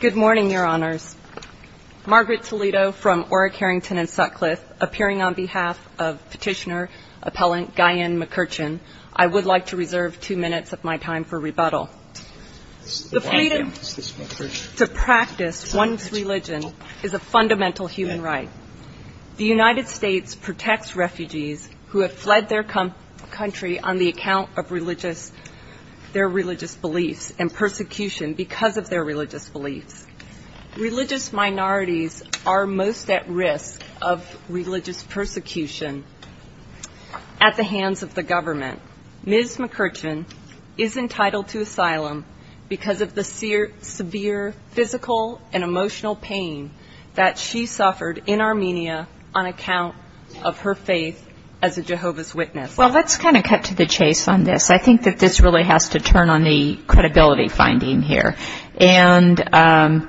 Good morning, Your Honors. Margaret Toledo from Orrick, Harrington, and Sutcliffe, appearing on behalf of petitioner-appellant Guyenne Mkrtchyan, I would like to reserve two minutes of my time for rebuttal. The freedom to practice one's religion is a fundamental human right. The United States protects refugees who have fled their country on the account of their religious beliefs and persecution because of their religious beliefs. Religious minorities are most at risk of religious persecution at the hands of the government. Ms. Mkrtchyan is entitled to asylum because of the severe physical and emotional pain that she suffered in Armenia on account of her faith as a Jehovah's Witness. Well, let's kind of cut to the chase on this. I think that this really has to turn on the credibility finding here. And,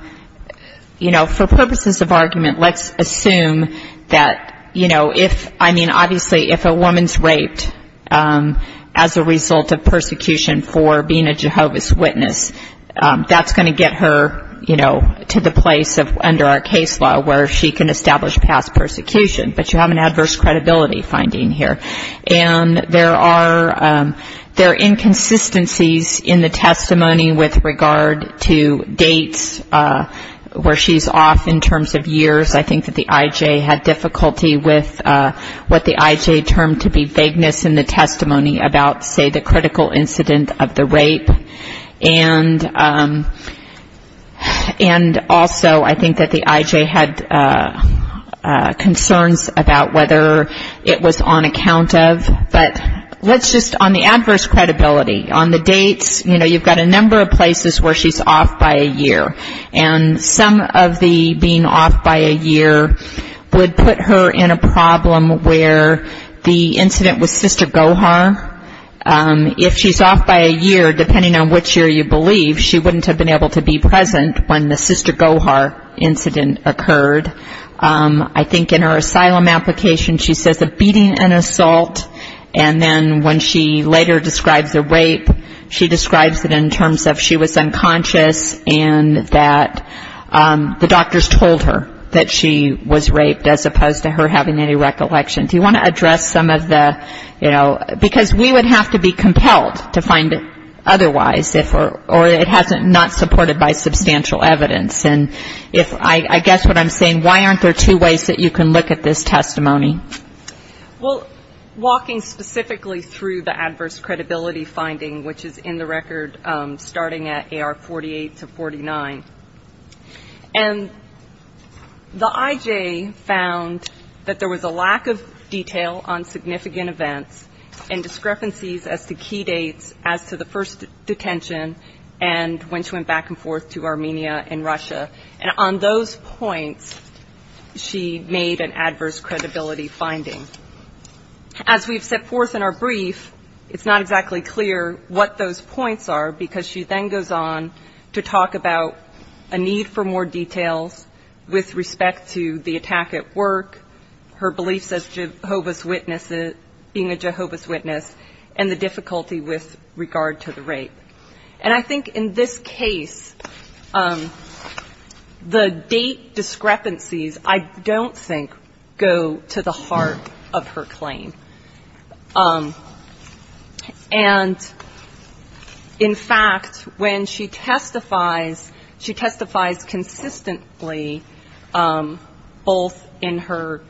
you know, for purposes of argument, let's assume that, you know, if, I mean, obviously if a woman's raped as a result of persecution for being a Jehovah's Witness, that's going to get her, you know, to the place of under our case law where she can establish past persecution. But you have an adverse credibility finding here. And there are inconsistencies in the testimony with regard to dates where she's off in terms of years. I think that the I.J. had difficulty with what the I.J. termed to be vagueness in the testimony about, say, the critical incident of the rape. And also I think that the I.J. had concerns about whether it was on account of. But let's just, on the adverse credibility, on the dates, you know, you've got a number of places where she's off by a year. And some of the being off by a year would put her in a problem where the incident with Sister Gohar, if she's off by a year, depending on which year you believe, she wouldn't have been able to be present when the Sister Gohar incident occurred. I think in her asylum application she says the beating and assault. And then when she later describes the rape, she describes it in terms of she was unconscious and that the doctors told her that she was raped as opposed to her having any recollection. Do you want to address some of the, you know, because we would have to be compelled to find it otherwise, or it hasn't not supported by substantial evidence. And if, I guess what I'm saying, why aren't there two ways that you can look at this testimony? Dr. Jane Woodcock Well, walking specifically through the adverse credibility finding, which is in the record starting at A.R. 48 to 49, and the I.J. found that there was a lack of detail on significant events and discrepancies as to key dates as to the first detention and when she went back and forth to Armenia and Russia. And on those points she made an adverse credibility finding. As we've set forth in our brief, it's not exactly clear what those points are because she then goes on to talk about a need for more details with respect to the attack at work, her beliefs as a Jehovah's Witness and the difficulty with regard to the rape. And I think in this case, the date discrepancies I don't think go to the heart of her claim. And in fact, when she testifies, she testifies consistently, both in her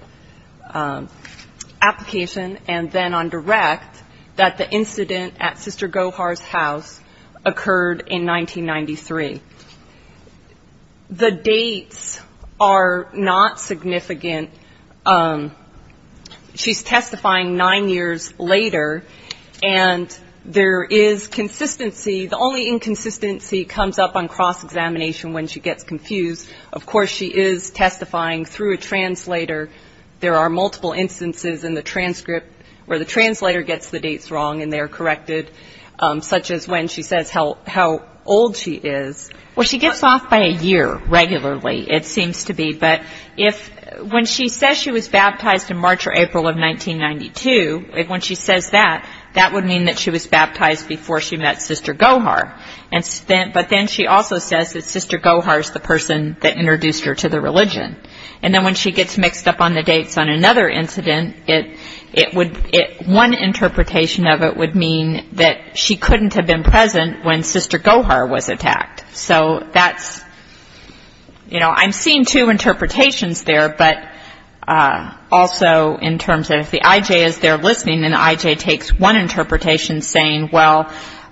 application and then on direct, that the incident at Sister Gohar's house occurred in 1993. The dates are not significant. She's testifying nine years later, and there is consistency. The only inconsistency comes up on cross-examination when she gets confused. Of course, she is testifying through a translator. There are multiple instances in the transcript where the translator gets the dates wrong and they are corrected, such as when she says how old she is. Well, she gives off by a year regularly, it seems to be. But when she says she was baptized in March or April of 1992, when she says that, that would mean that she was baptized before she met Sister Gohar. But then she also says that Sister Gohar is the person that introduced her to the religion. And then when she gets mixed up on the dates on another incident, one interpretation of it would mean that she couldn't have been present when Sister Gohar was attacked. So that's, you know, I'm seeing two interpretations there, but also in terms of the IJ is there listening, and the IJ takes one interpretation saying, well,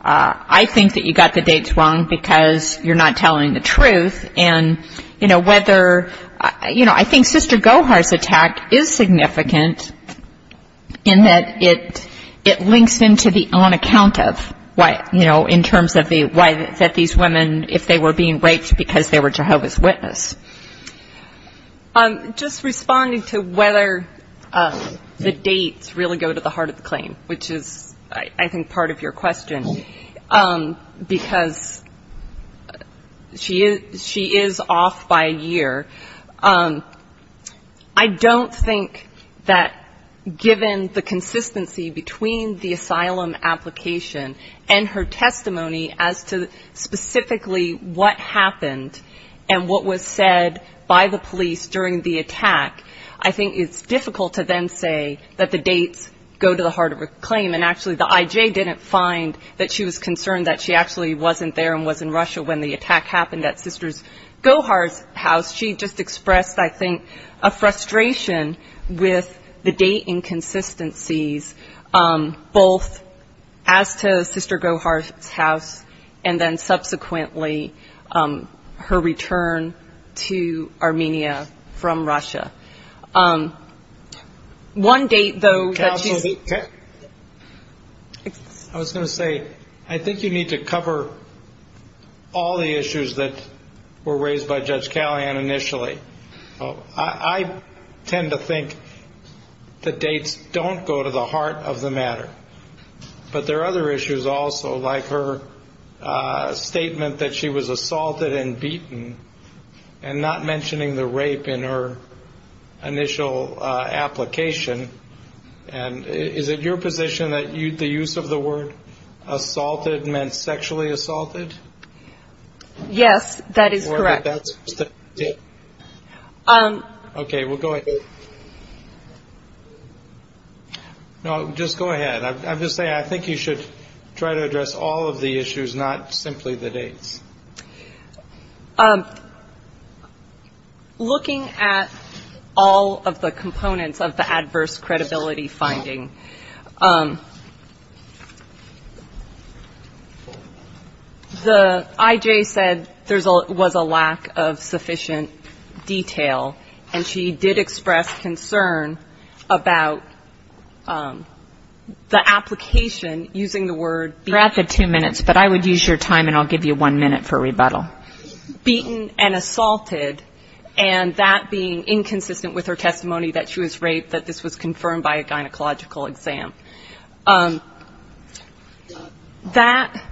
I think that you got the dates wrong because you're not telling the truth. And, you know, whether you know, I think Sister Gohar's attack is significant in that it links into the on account of, you know, in terms of the why that these women, if they were being raped because they were Jehovah's Witness. Just responding to whether the dates really go to the heart of the claim, which is, I think, part of your question, because she is off by a year. I don't think that given the consistency between the asylum application and her testimony as to specifically what happened and what was said by the police during the attack, I think it's difficult to then say that the dates go to the heart of the claim. And actually the IJ didn't find that she was concerned that she actually wasn't there and was in Russia when the attack happened at Sister Gohar's house. She just expressed, I think, a frustration with the date inconsistencies both as to Sister Gohar's house and then subsequently her return to Armenia from Russia. One date, though, that she's... Counsel, I was going to say, I think you need to cover all the issues that were raised by the IJ. But there are other issues also, like her statement that she was assaulted and beaten and not mentioning the rape in her initial application. Is it your position that the use of the word assaulted meant sexually assaulted? Yes, that is correct. Okay, we'll go ahead. No, just go ahead. I'm just saying, I think you should try to address all of the issues, not simply the dates. Looking at all of the components of the adverse credibility finding, the IJ said there was a lack of sufficient detail, and she did express concern about the application using the word beaten and assaulted, and that being inconsistent with her testimony that she was raped, that this was confirmed by a gynecological exam. That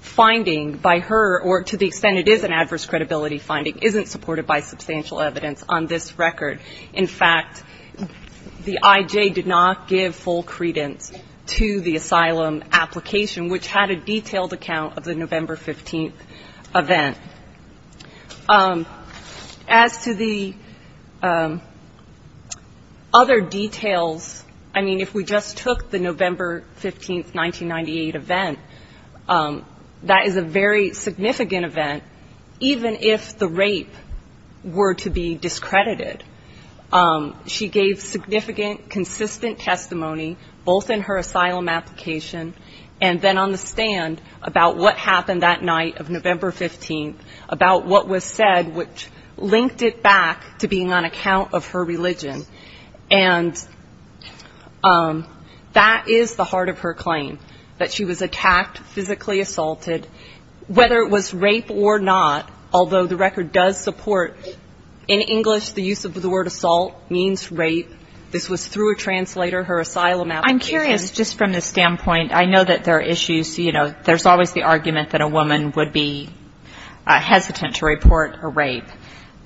finding, by her own assessment, or to the extent it is an adverse credibility finding, isn't supported by substantial evidence on this record. In fact, the IJ did not give full credence to the asylum application, which had a detailed account of the November 15th event. As to the other details, I mean, if we just took the November 15th, 1998 event, that is a very significant event, even if the rape were to be discredited. She gave significant, consistent testimony, both in her asylum application and then on the stand, about what happened that night of November 15th, about what was said, which linked it back to being on account of her religion. And that is the heart of her claim, that she was attacked, physically assaulted, whether it was rape or not, although the record does support, in English, the use of the word assault means rape. This was through a translator, her asylum application. I'm curious, just from the standpoint, I know that there are issues, you know, there's always the argument that a woman would be hesitant to report a rape,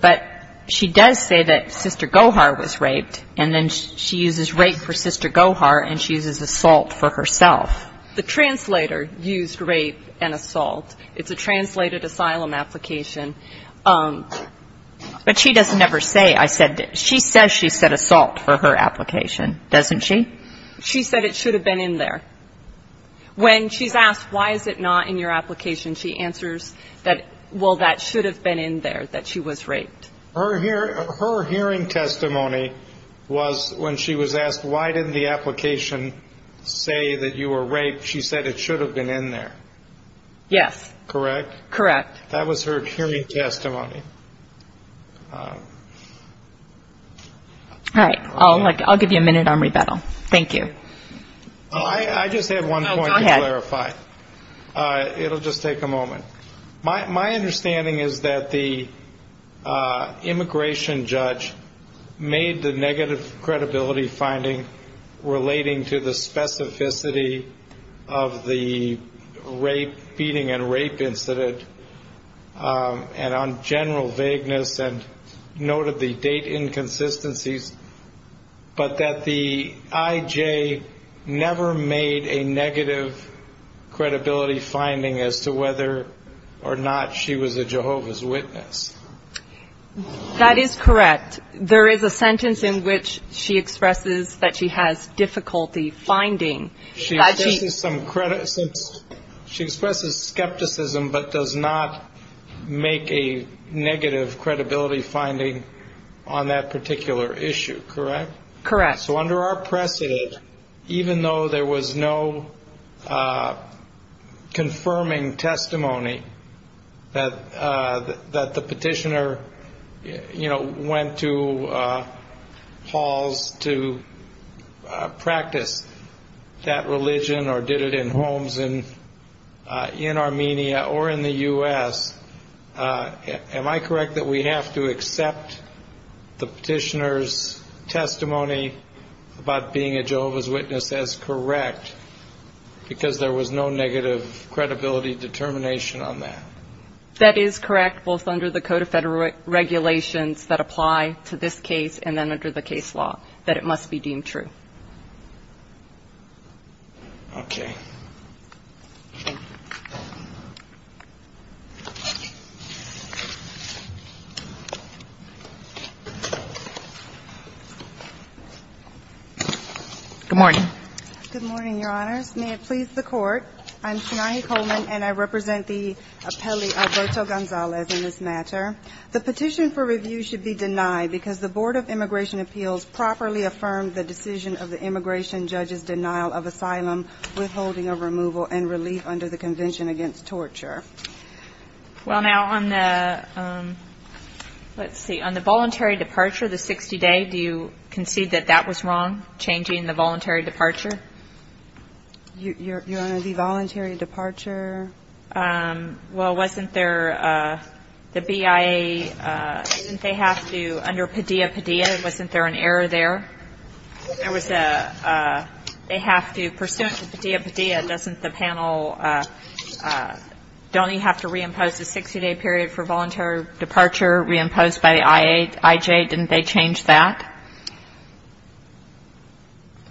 but she does say that Sister Gohar was raped, and then she uses rape for Sister Gohar, and she uses assault for herself. The translator used rape and assault. It's a translated asylum application. But she doesn't ever say, I said, she says she said assault for her application, doesn't she? She said it should have been in there. When she's asked, why is it not in your application, she answers that, well, that should have been in there, that she was raped. Her hearing testimony was when she was asked, why didn't the application say that you were raped, she said it should have been in there. Yes. Correct? Correct. That was her hearing testimony. All right, I'll give you a minute on rebuttal. Thank you. I just have one point to clarify. Go ahead. It'll just take a moment. My understanding is that the immigration judge made the negative credibility finding relating to the specificity of the beating and rape incident, and on general vagueness, and noted the date inconsistencies, but that the IJ never made a negative credibility finding as to whether or not she was a Jehovah's Witness. That is correct. There is a sentence in which she expresses that she has difficulty finding. She expresses skepticism, but does not make a negative credibility finding on that particular issue, correct? Correct. So under our precedent, even though there was no confirming testimony that the particular petitioner went to halls to practice that religion or did it in homes in Armenia or in the U.S., am I correct that we have to accept the petitioner's testimony about being a Jehovah's Witness as correct, because there was no negative credibility determination on that? That is correct, both under the Code of Federal Regulations that apply to this case and then under the case law, that it must be deemed true. Okay. Good morning. Good morning, Your Honors. May it please the Court, I'm Shanahi Coleman, and I represent the appellee Alberto Gonzalez in this matter. The petition for review should be denied because the Board of Immigration Appeals properly affirmed the decision of the immigration judge's denial of asylum, withholding of removal, and relief under the Convention Against Torture. Well, now, on the, let's see, on the voluntary departure, the 60-day, do you concede that that was wrong, changing the voluntary departure? Your Honor, the voluntary departure? Well, wasn't there, the BIA, didn't they have to, under Padilla Padilla, wasn't there an error there? There was a, they have to, pursuant to Padilla Padilla, doesn't the panel, don't they have to reimpose the 60-day period for voluntary departure, reimposed by the IA, IJ, didn't they change that?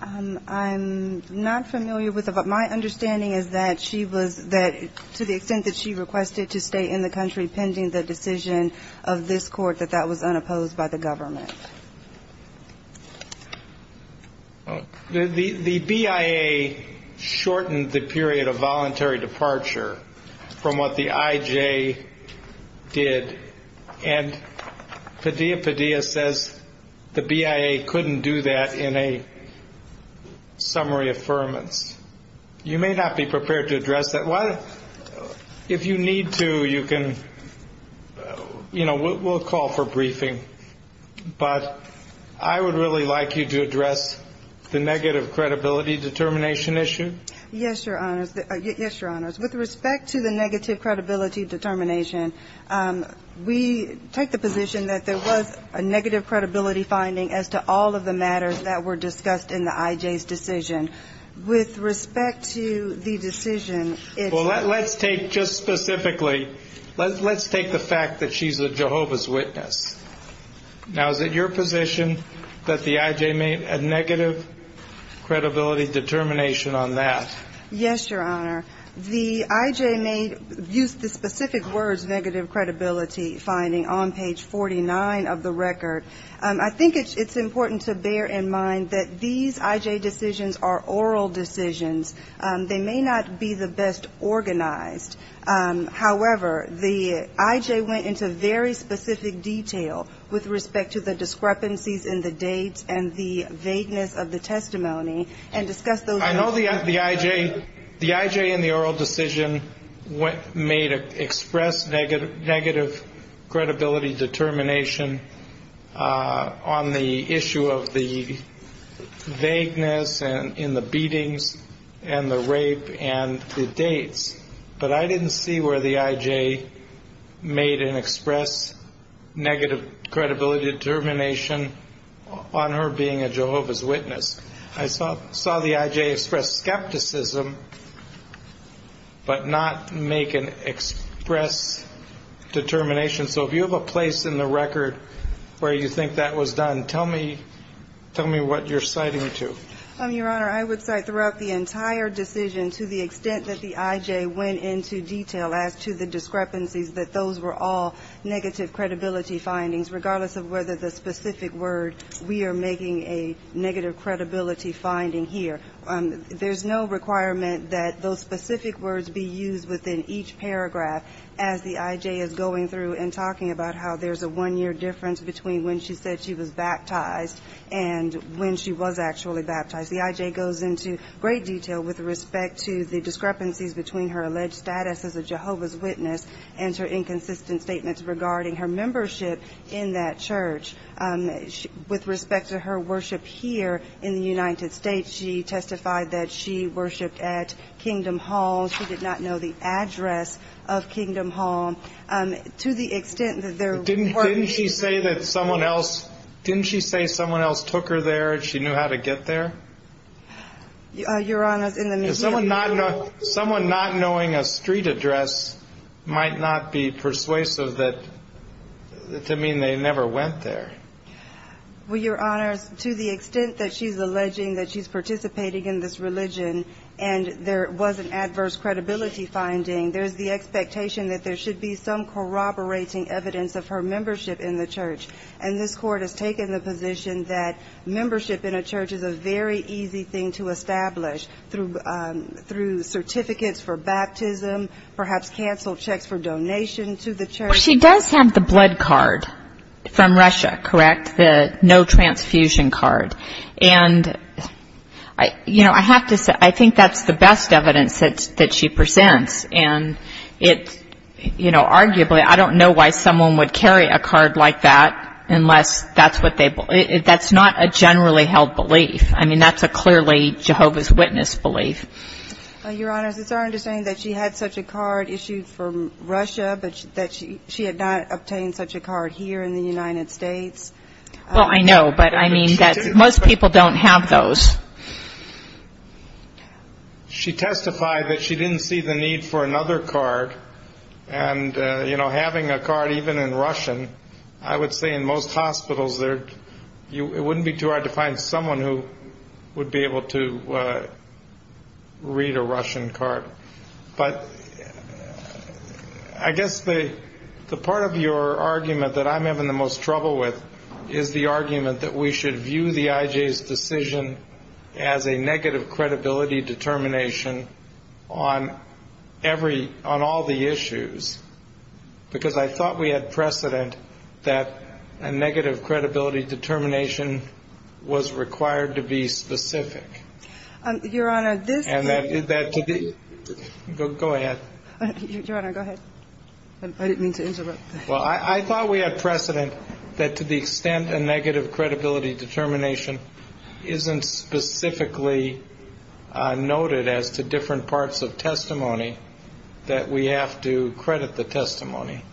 I'm not familiar with it, but my understanding is that she was, that to the extent that she requested to stay in the country pending the decision of this Court, that that was unopposed by the government. The BIA shortened the period of voluntary departure from what the IJ did, and Padilla Padilla says the BIA has to, the BIA couldn't do that in a summary affirmance. You may not be prepared to address that. Why, if you need to, you can, you know, we'll call for briefing, but I would really like you to address the negative credibility determination issue. Yes, Your Honors. With respect to the negative credibility determination, we take the position that there was a negative credibility finding as to all of the matters that were discussed in the IJ's decision. With respect to the decision, it's Well, let's take just specifically, let's take the fact that she's a Jehovah's Witness. Now, is it your position that the IJ made a negative credibility determination on that? Yes, Your Honor. The IJ made, used the specific words negative credibility finding on page 49 of the record, and the IJ made a negative credibility determination. I think it's important to bear in mind that these IJ decisions are oral decisions. They may not be the best organized. However, the IJ went into very specific detail with respect to the discrepancies in the date and the vagueness of the testimony, and discussed those I know the IJ, the IJ in the oral decision made an express negative credibility determination on page 49 of the record. On the issue of the vagueness and in the beatings and the rape and the dates. But I didn't see where the IJ made an express negative credibility determination on her being a Jehovah's Witness. I saw the IJ express skepticism, but not make an express determination. So if you have a place in the record where you think that was done, tell me, tell me what you're citing to. Your Honor, I would cite throughout the entire decision to the extent that the IJ went into detail as to the discrepancies that those were all negative credibility findings, regardless of whether the specific word we are making a negative credibility finding here. There's no requirement that those specific words be used within each paragraph as the IJ is going through and talking about how there's a one-year difference between when she said she was baptized and when she was actually baptized. The IJ goes into great detail with respect to the discrepancies between her alleged status as a Jehovah's Witness and her inconsistent statements regarding her membership in that church. With respect to her worship here in the United States, she testified that she worshiped at Kingdom Hall. She did not know the address of Kingdom Hall. To the extent that there were... Didn't she say that someone else, didn't she say someone else took her there and she knew how to get there? Your Honor, in the media... Someone not knowing a street address might not be persuasive to mean they never went there. Well, Your Honor, to the extent that she's alleging that she's participating in this religion and there was an adverse credibility finding, there's the expectation that there should be some corroborating evidence of her membership in the church. And this Court has taken the position that membership in a church is a very easy thing to establish through certificates for baptism, perhaps canceled checks for donation to the church. She does have the blood card from Russia, correct? The no transfusion card. And, you know, I have to say, I think that's the best evidence that she presents. And it's, you know, arguably, I don't know why someone would carry a card like that unless that's what they believe. That's not a generally held belief. I mean, that's a clearly Jehovah's Witness belief. Your Honor, it's our understanding that she had such a card issued from Russia, but that she had not obtained such a card here in the United States. Well, I know, but I mean, most people don't have those. She testified that she didn't see the need for another card. And, you know, having a card even in Russian, I would say in most hospitals, it wouldn't be too hard to find someone who would be able to read a Russian card. But I guess the part of your argument that I'm having the most trouble with is the argument that we should view the IJ's decision as a negative credibility determination on every ‑‑ on all the issues, because I thought we had precedent that a negative credibility determination was required to be specific. Your Honor, this ‑‑ Go ahead. I didn't mean to interrupt. Well, I thought we had precedent that to the extent a negative credibility determination isn't specifically noted as to different parts of testimony, that we have to credit the testimony.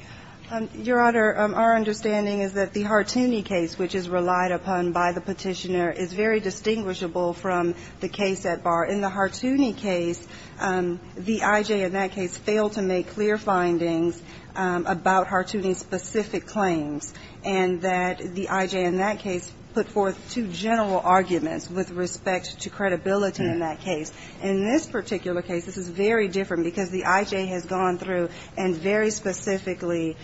Your Honor, our understanding is that the Hartooni case, which is relied upon by the petitioner, is very distinguishable from the case at bar. In the Hartooni case, the IJ in that case failed to make clear findings about Hartooni's specific claims, and that the IJ in that case put forth two general arguments with respect to credibility in that case. In this particular case, this is very different, because the IJ has gone through and very specifically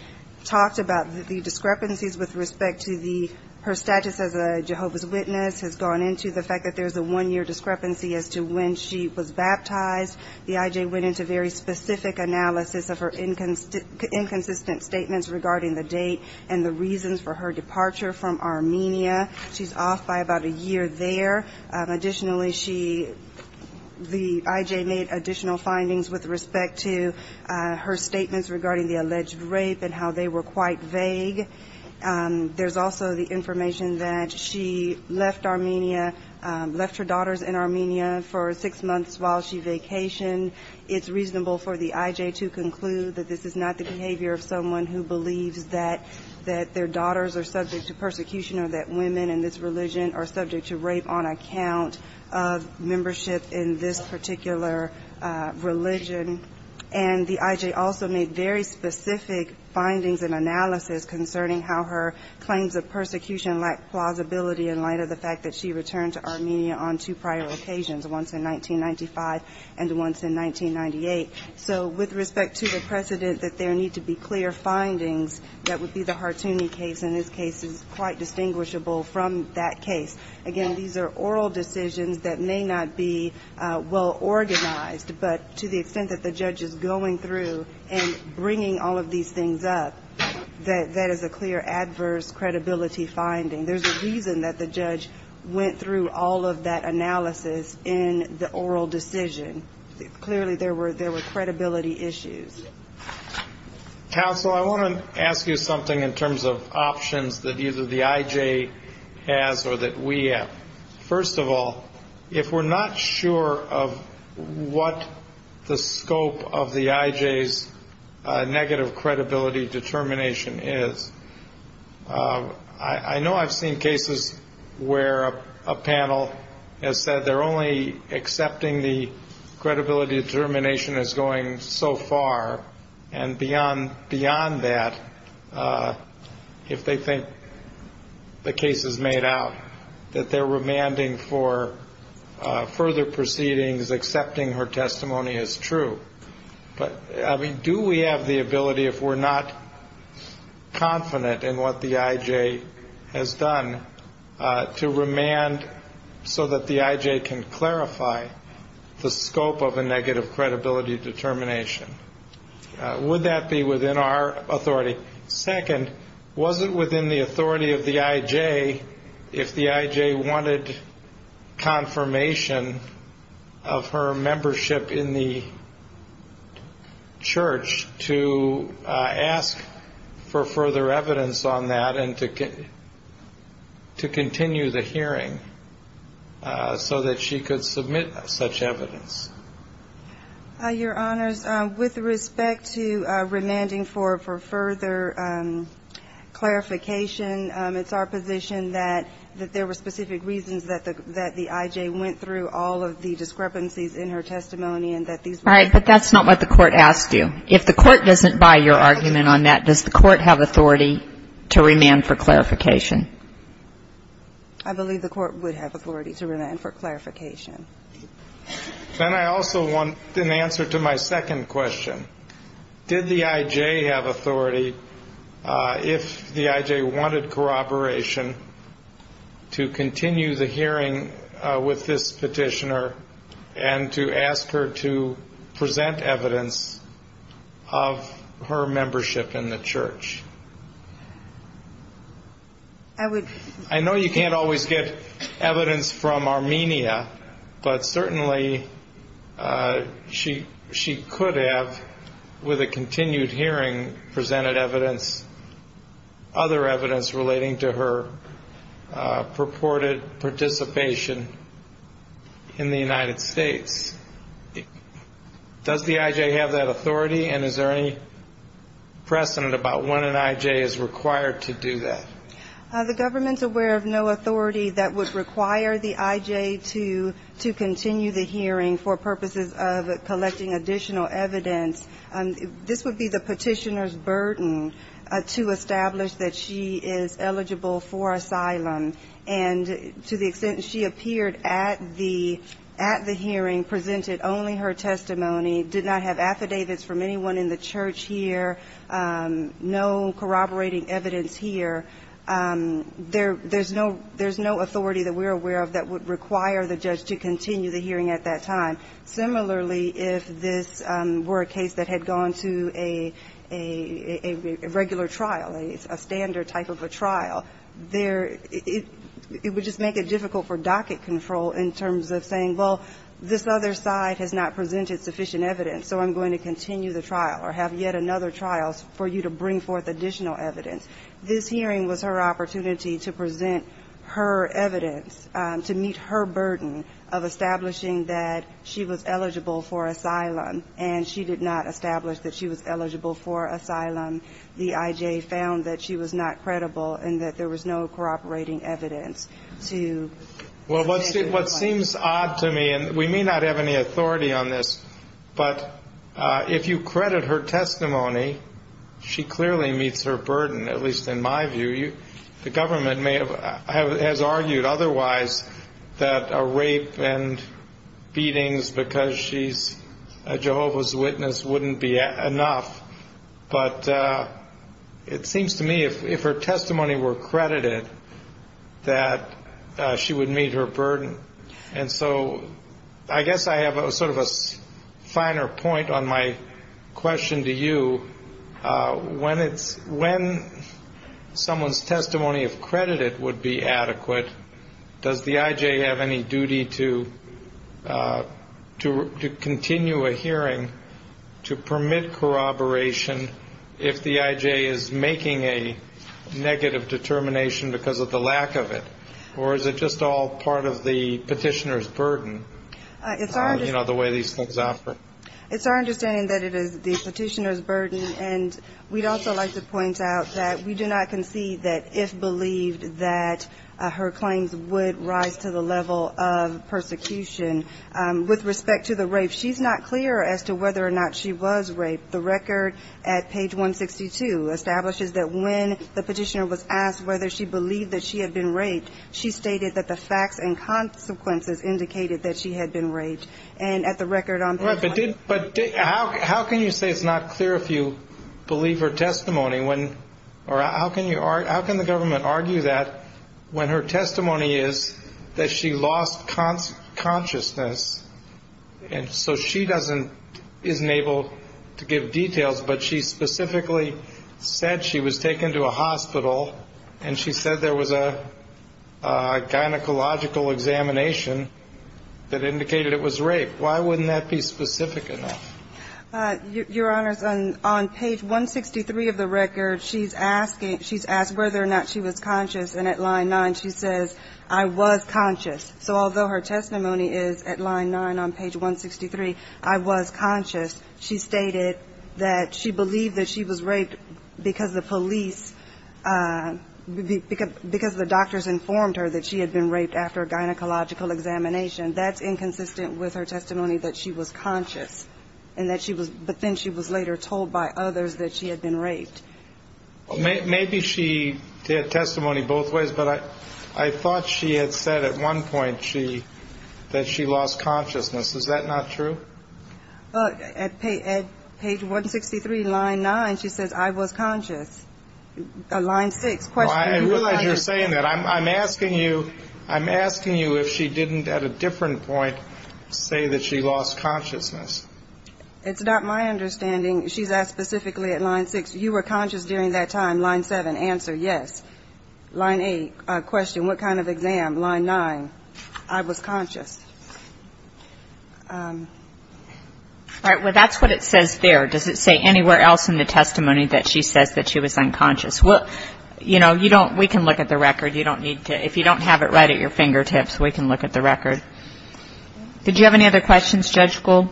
talked about the discrepancies with respect to the Hartooni case. Her status as a Jehovah's Witness has gone into the fact that there's a one‑year discrepancy as to when she was baptized. The IJ went into very specific analysis of her inconsistent statements regarding the date and the reasons for her departure from Armenia. She's off by about a year there. Additionally, she ‑‑ the IJ made additional findings with respect to her statements regarding the alleged rape and how they were quite vague. The IJ made very specific information that she left Armenia, left her daughters in Armenia for six months while she vacationed. It's reasonable for the IJ to conclude that this is not the behavior of someone who believes that their daughters are subject to persecution or that women in this religion are subject to rape on account of membership in this particular religion. And the IJ also made very specific findings and analysis concerning how her claims of persecution and rape in this particular religion are not true. The IJ also made very specific findings concerning how her claims of persecution lack plausibility in light of the fact that she returned to Armenia on two prior occasions, once in 1995 and once in 1998. So with respect to the precedent that there need to be clear findings, that would be the Hartooni case, and this case is quite distinguishable from that case. Again, these are oral decisions that may not be well organized, but to the extent that the judge is going through and bringing all of these findings, there's a reason that the judge went through all of that analysis in the oral decision. Clearly, there were credibility issues. Counsel, I want to ask you something in terms of options that either the IJ has or that we have. First of all, if we're not sure of what the scope of the IJ's negative credibility determination is, I know that the IJ's testimony is true. I know I've seen cases where a panel has said they're only accepting the credibility determination as going so far, and beyond that, if they think the case is made out, that they're remanding for further proceedings, accepting her testimony as true. But, I mean, do we have the ability, if we're not confident in what the IJ has said, to make a case that the IJ's testimony is true? I mean, what is done to remand so that the IJ can clarify the scope of a negative credibility determination? Would that be within our authority? Second, was it within the authority of the IJ if the IJ wanted confirmation of her membership in the church to ask for further evidence on that and to continue the hearing so that she could submit such evidence? Your Honors, with respect to remanding for further clarification, it's our position that there were specific reasons that the IJ went through all of the discrepancies in her testimony and that these were not true. All right. But that's not what the Court asked you. If the Court doesn't buy your argument on that, does the Court have authority to remand for clarification? I believe the Court would have authority to remand for clarification. Then I also want an answer to my second question. Did the IJ have authority, if the IJ wanted corroboration, to continue the hearing with this petitioner and to ask her to present evidence of her membership in the church? I know you can't always get evidence from Armenia, but certainly she could have, with a continued hearing, presented evidence, other evidence relating to her purported participation in the United States. Does the IJ have that authority and is there any precedent about when an IJ is required to do that? The government's aware of no authority that would require the IJ to continue the hearing for purposes of collecting additional evidence. This would be the petitioner's burden to establish that she is eligible for asylum. And to the extent that she appeared at the hearing, presented only her testimony, did not have affidavits from anyone in the church here, no corroborating evidence here, that would be a burden on the petitioner. There's no authority that we're aware of that would require the judge to continue the hearing at that time. Similarly, if this were a case that had gone to a regular trial, a standard type of a trial, it would just make it difficult for docket control in terms of saying, well, this other side has not presented sufficient evidence, so I'm going to continue the trial or have yet another trial for you to bring forth additional evidence. This hearing was her opportunity to present her evidence, to meet her burden of establishing that she was eligible for asylum, and she did not establish that she was eligible for asylum. The IJ found that she was not credible and that there was no corroborating evidence to make it impossible. Well, what seems odd to me, and we may not have any authority on this, but if you credit her testimony, she did not have any authority to present her testimony. She clearly meets her burden, at least in my view. The government has argued otherwise that a rape and beatings because she's a Jehovah's Witness wouldn't be enough, but it seems to me if her testimony were credited, that she would meet her burden. And so I guess I have sort of a finer point on my question to you. What do you think would be the best way for the judge to determine if someone's testimony if credited would be adequate? Does the IJ have any duty to continue a hearing to permit corroboration if the IJ is making a negative determination because of the lack of it, or is it just all part of the petitioner's burden, you know, the way these things operate? It's our understanding that it is the petitioner's burden, and we'd also like to point out that we do not concede that if believed that her claims would rise to the level of persecution. With respect to the rape, she's not clear as to whether or not she was raped. The record at page 162 establishes that when the petitioner was asked whether she believed that she had been raped, she stated that the facts and consequences indicated that she had been raped. But how can you say it's not clear if you believe her testimony, or how can the government argue that when her testimony is that she lost consciousness, and so she isn't able to give details, but she specifically said she was taken to a hospital, and she said there was a gynecological examination that indicated it was rape. Why wouldn't that be specific enough? Your Honor, on page 163 of the record, she's asked whether or not she was conscious, and at line nine she says, I was conscious. So although her testimony is at line nine on page 163, I was conscious, she stated that she believed that she was raped because the police informed her that she had been raped after a gynecological examination. That's inconsistent with her testimony that she was conscious, but then she was later told by others that she had been raped. Maybe she did testimony both ways, but I thought she had said at one point that she lost consciousness. Is that not true? At page 163, line nine, she says, I was conscious. Line six, question, were you conscious? I realize you're saying that. I'm asking you if she didn't at a different point say that she lost consciousness. It's not my understanding. She's asked specifically at line six, you were conscious during that time. Line seven, answer, yes. Line eight, question, what kind of exam? Line nine, I was conscious. All right. Well, that's what it says there. Does it say anywhere else in the testimony that she says that she was unconscious? You know, we can look at the record. If you don't have it right at your fingertips, we can look at the record. Did you have any other questions, Judge Gould?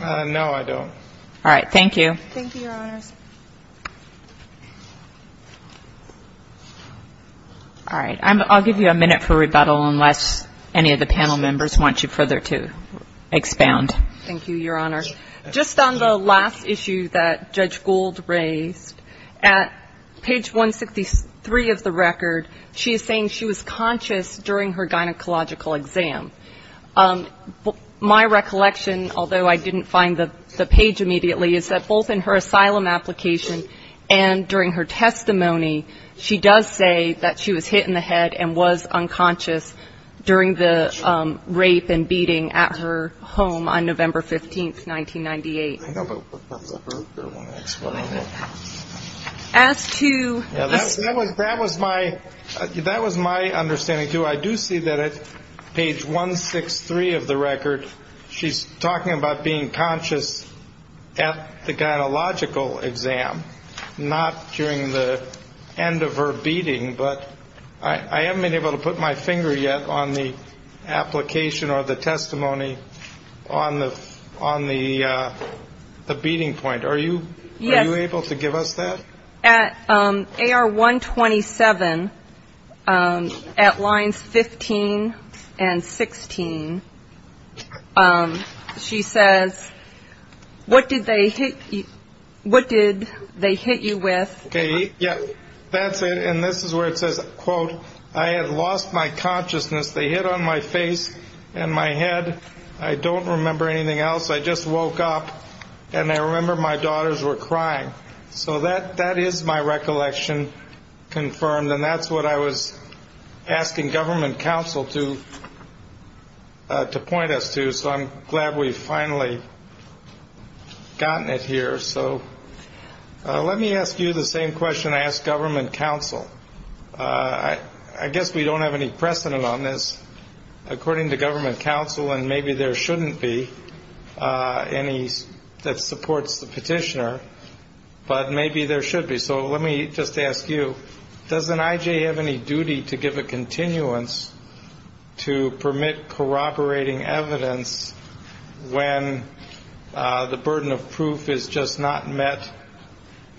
No, I don't. All right. Thank you. Thank you, Your Honors. All right. I'll give you a minute for rebuttal unless any of the panel members want you further to expound. Thank you, Your Honor. Just on the last issue that Judge Gould raised, at page 163 of the record, she is saying she was conscious during her gynecological exam. My recollection, although I didn't find the page immediately, is that both in her asylum application and during her testimony, she does say that she was hit in the head and was unconscious during the rape and beating at her home on November 15th, 1998. As to this. That was my understanding, too. I do see that at page 163 of the record, she's talking about being conscious at the gynecological exam, not during the end of her beating. But I haven't been able to put my finger yet on the application or the testimony on the beating point. Are you able to give us that? At AR 127, at lines 15 and 16, she says, what did they hit you with? That's it. And this is where it says, quote, I had lost my consciousness. They hit on my face and my head. I don't remember anything else. I just woke up and I remember my daughters were crying. So that that is my recollection confirmed. And that's what I was asking government counsel to to point us to. So I'm glad we've finally gotten it here. So let me ask you the same question. I guess we don't have any precedent on this, according to government counsel. And maybe there shouldn't be any that supports the petitioner. But maybe there should be. So let me just ask you, doesn't IJ have any duty to give a continuance to permit corroborating evidence when the burden of proof is just not met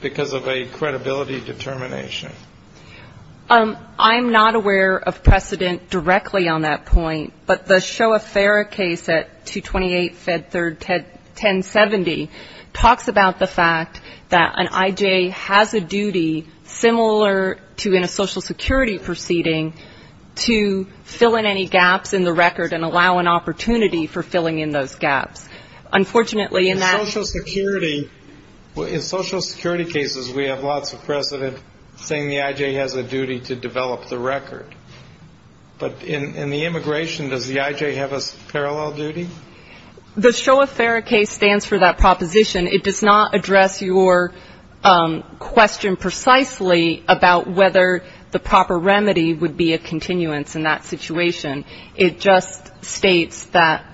because of a credibility debate? I'm not aware of precedent directly on that point. But the Shoah-Farah case at 228 Fed Third 1070 talks about the fact that an IJ has a duty similar to in a social security proceeding to fill in any gaps in the record and allow an opportunity for filling in those gaps. Unfortunately, in that. In social security cases, we have lots of precedent saying the IJ has a duty to develop the record. But in the immigration, does the IJ have a parallel duty? The Shoah-Farah case stands for that proposition. It does not address your question precisely about whether the proper remedy would be a continuance in that situation. It just states that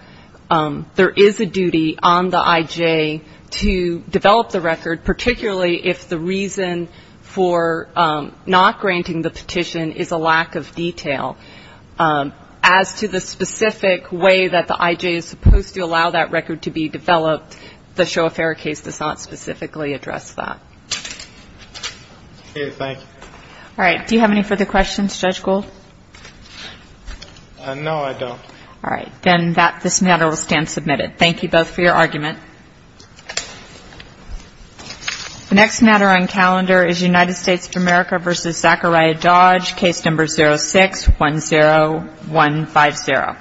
there is a duty on the IJ to develop the record, particularly if the reason for not granting the petition is a lack of detail. As to the specific way that the IJ is supposed to allow that record to be developed, the Shoah-Farah case does not specifically address that. All right. Do you have any further questions, Judge Gould? No, I don't. All right. Then this matter will stand submitted. Thank you both for your argument. The next matter on calendar is United States of America v. Zachariah Dodge, case number 06-10150.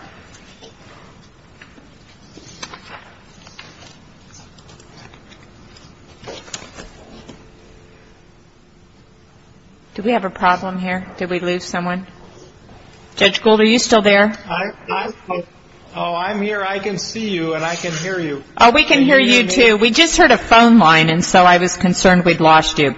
Do we have a problem here? Did we lose someone? Judge Gould, are you still there? Oh, I'm here. I can see you and I can hear you. Oh, we can hear you, too. We just heard a phone line, and so I was concerned we'd lost you.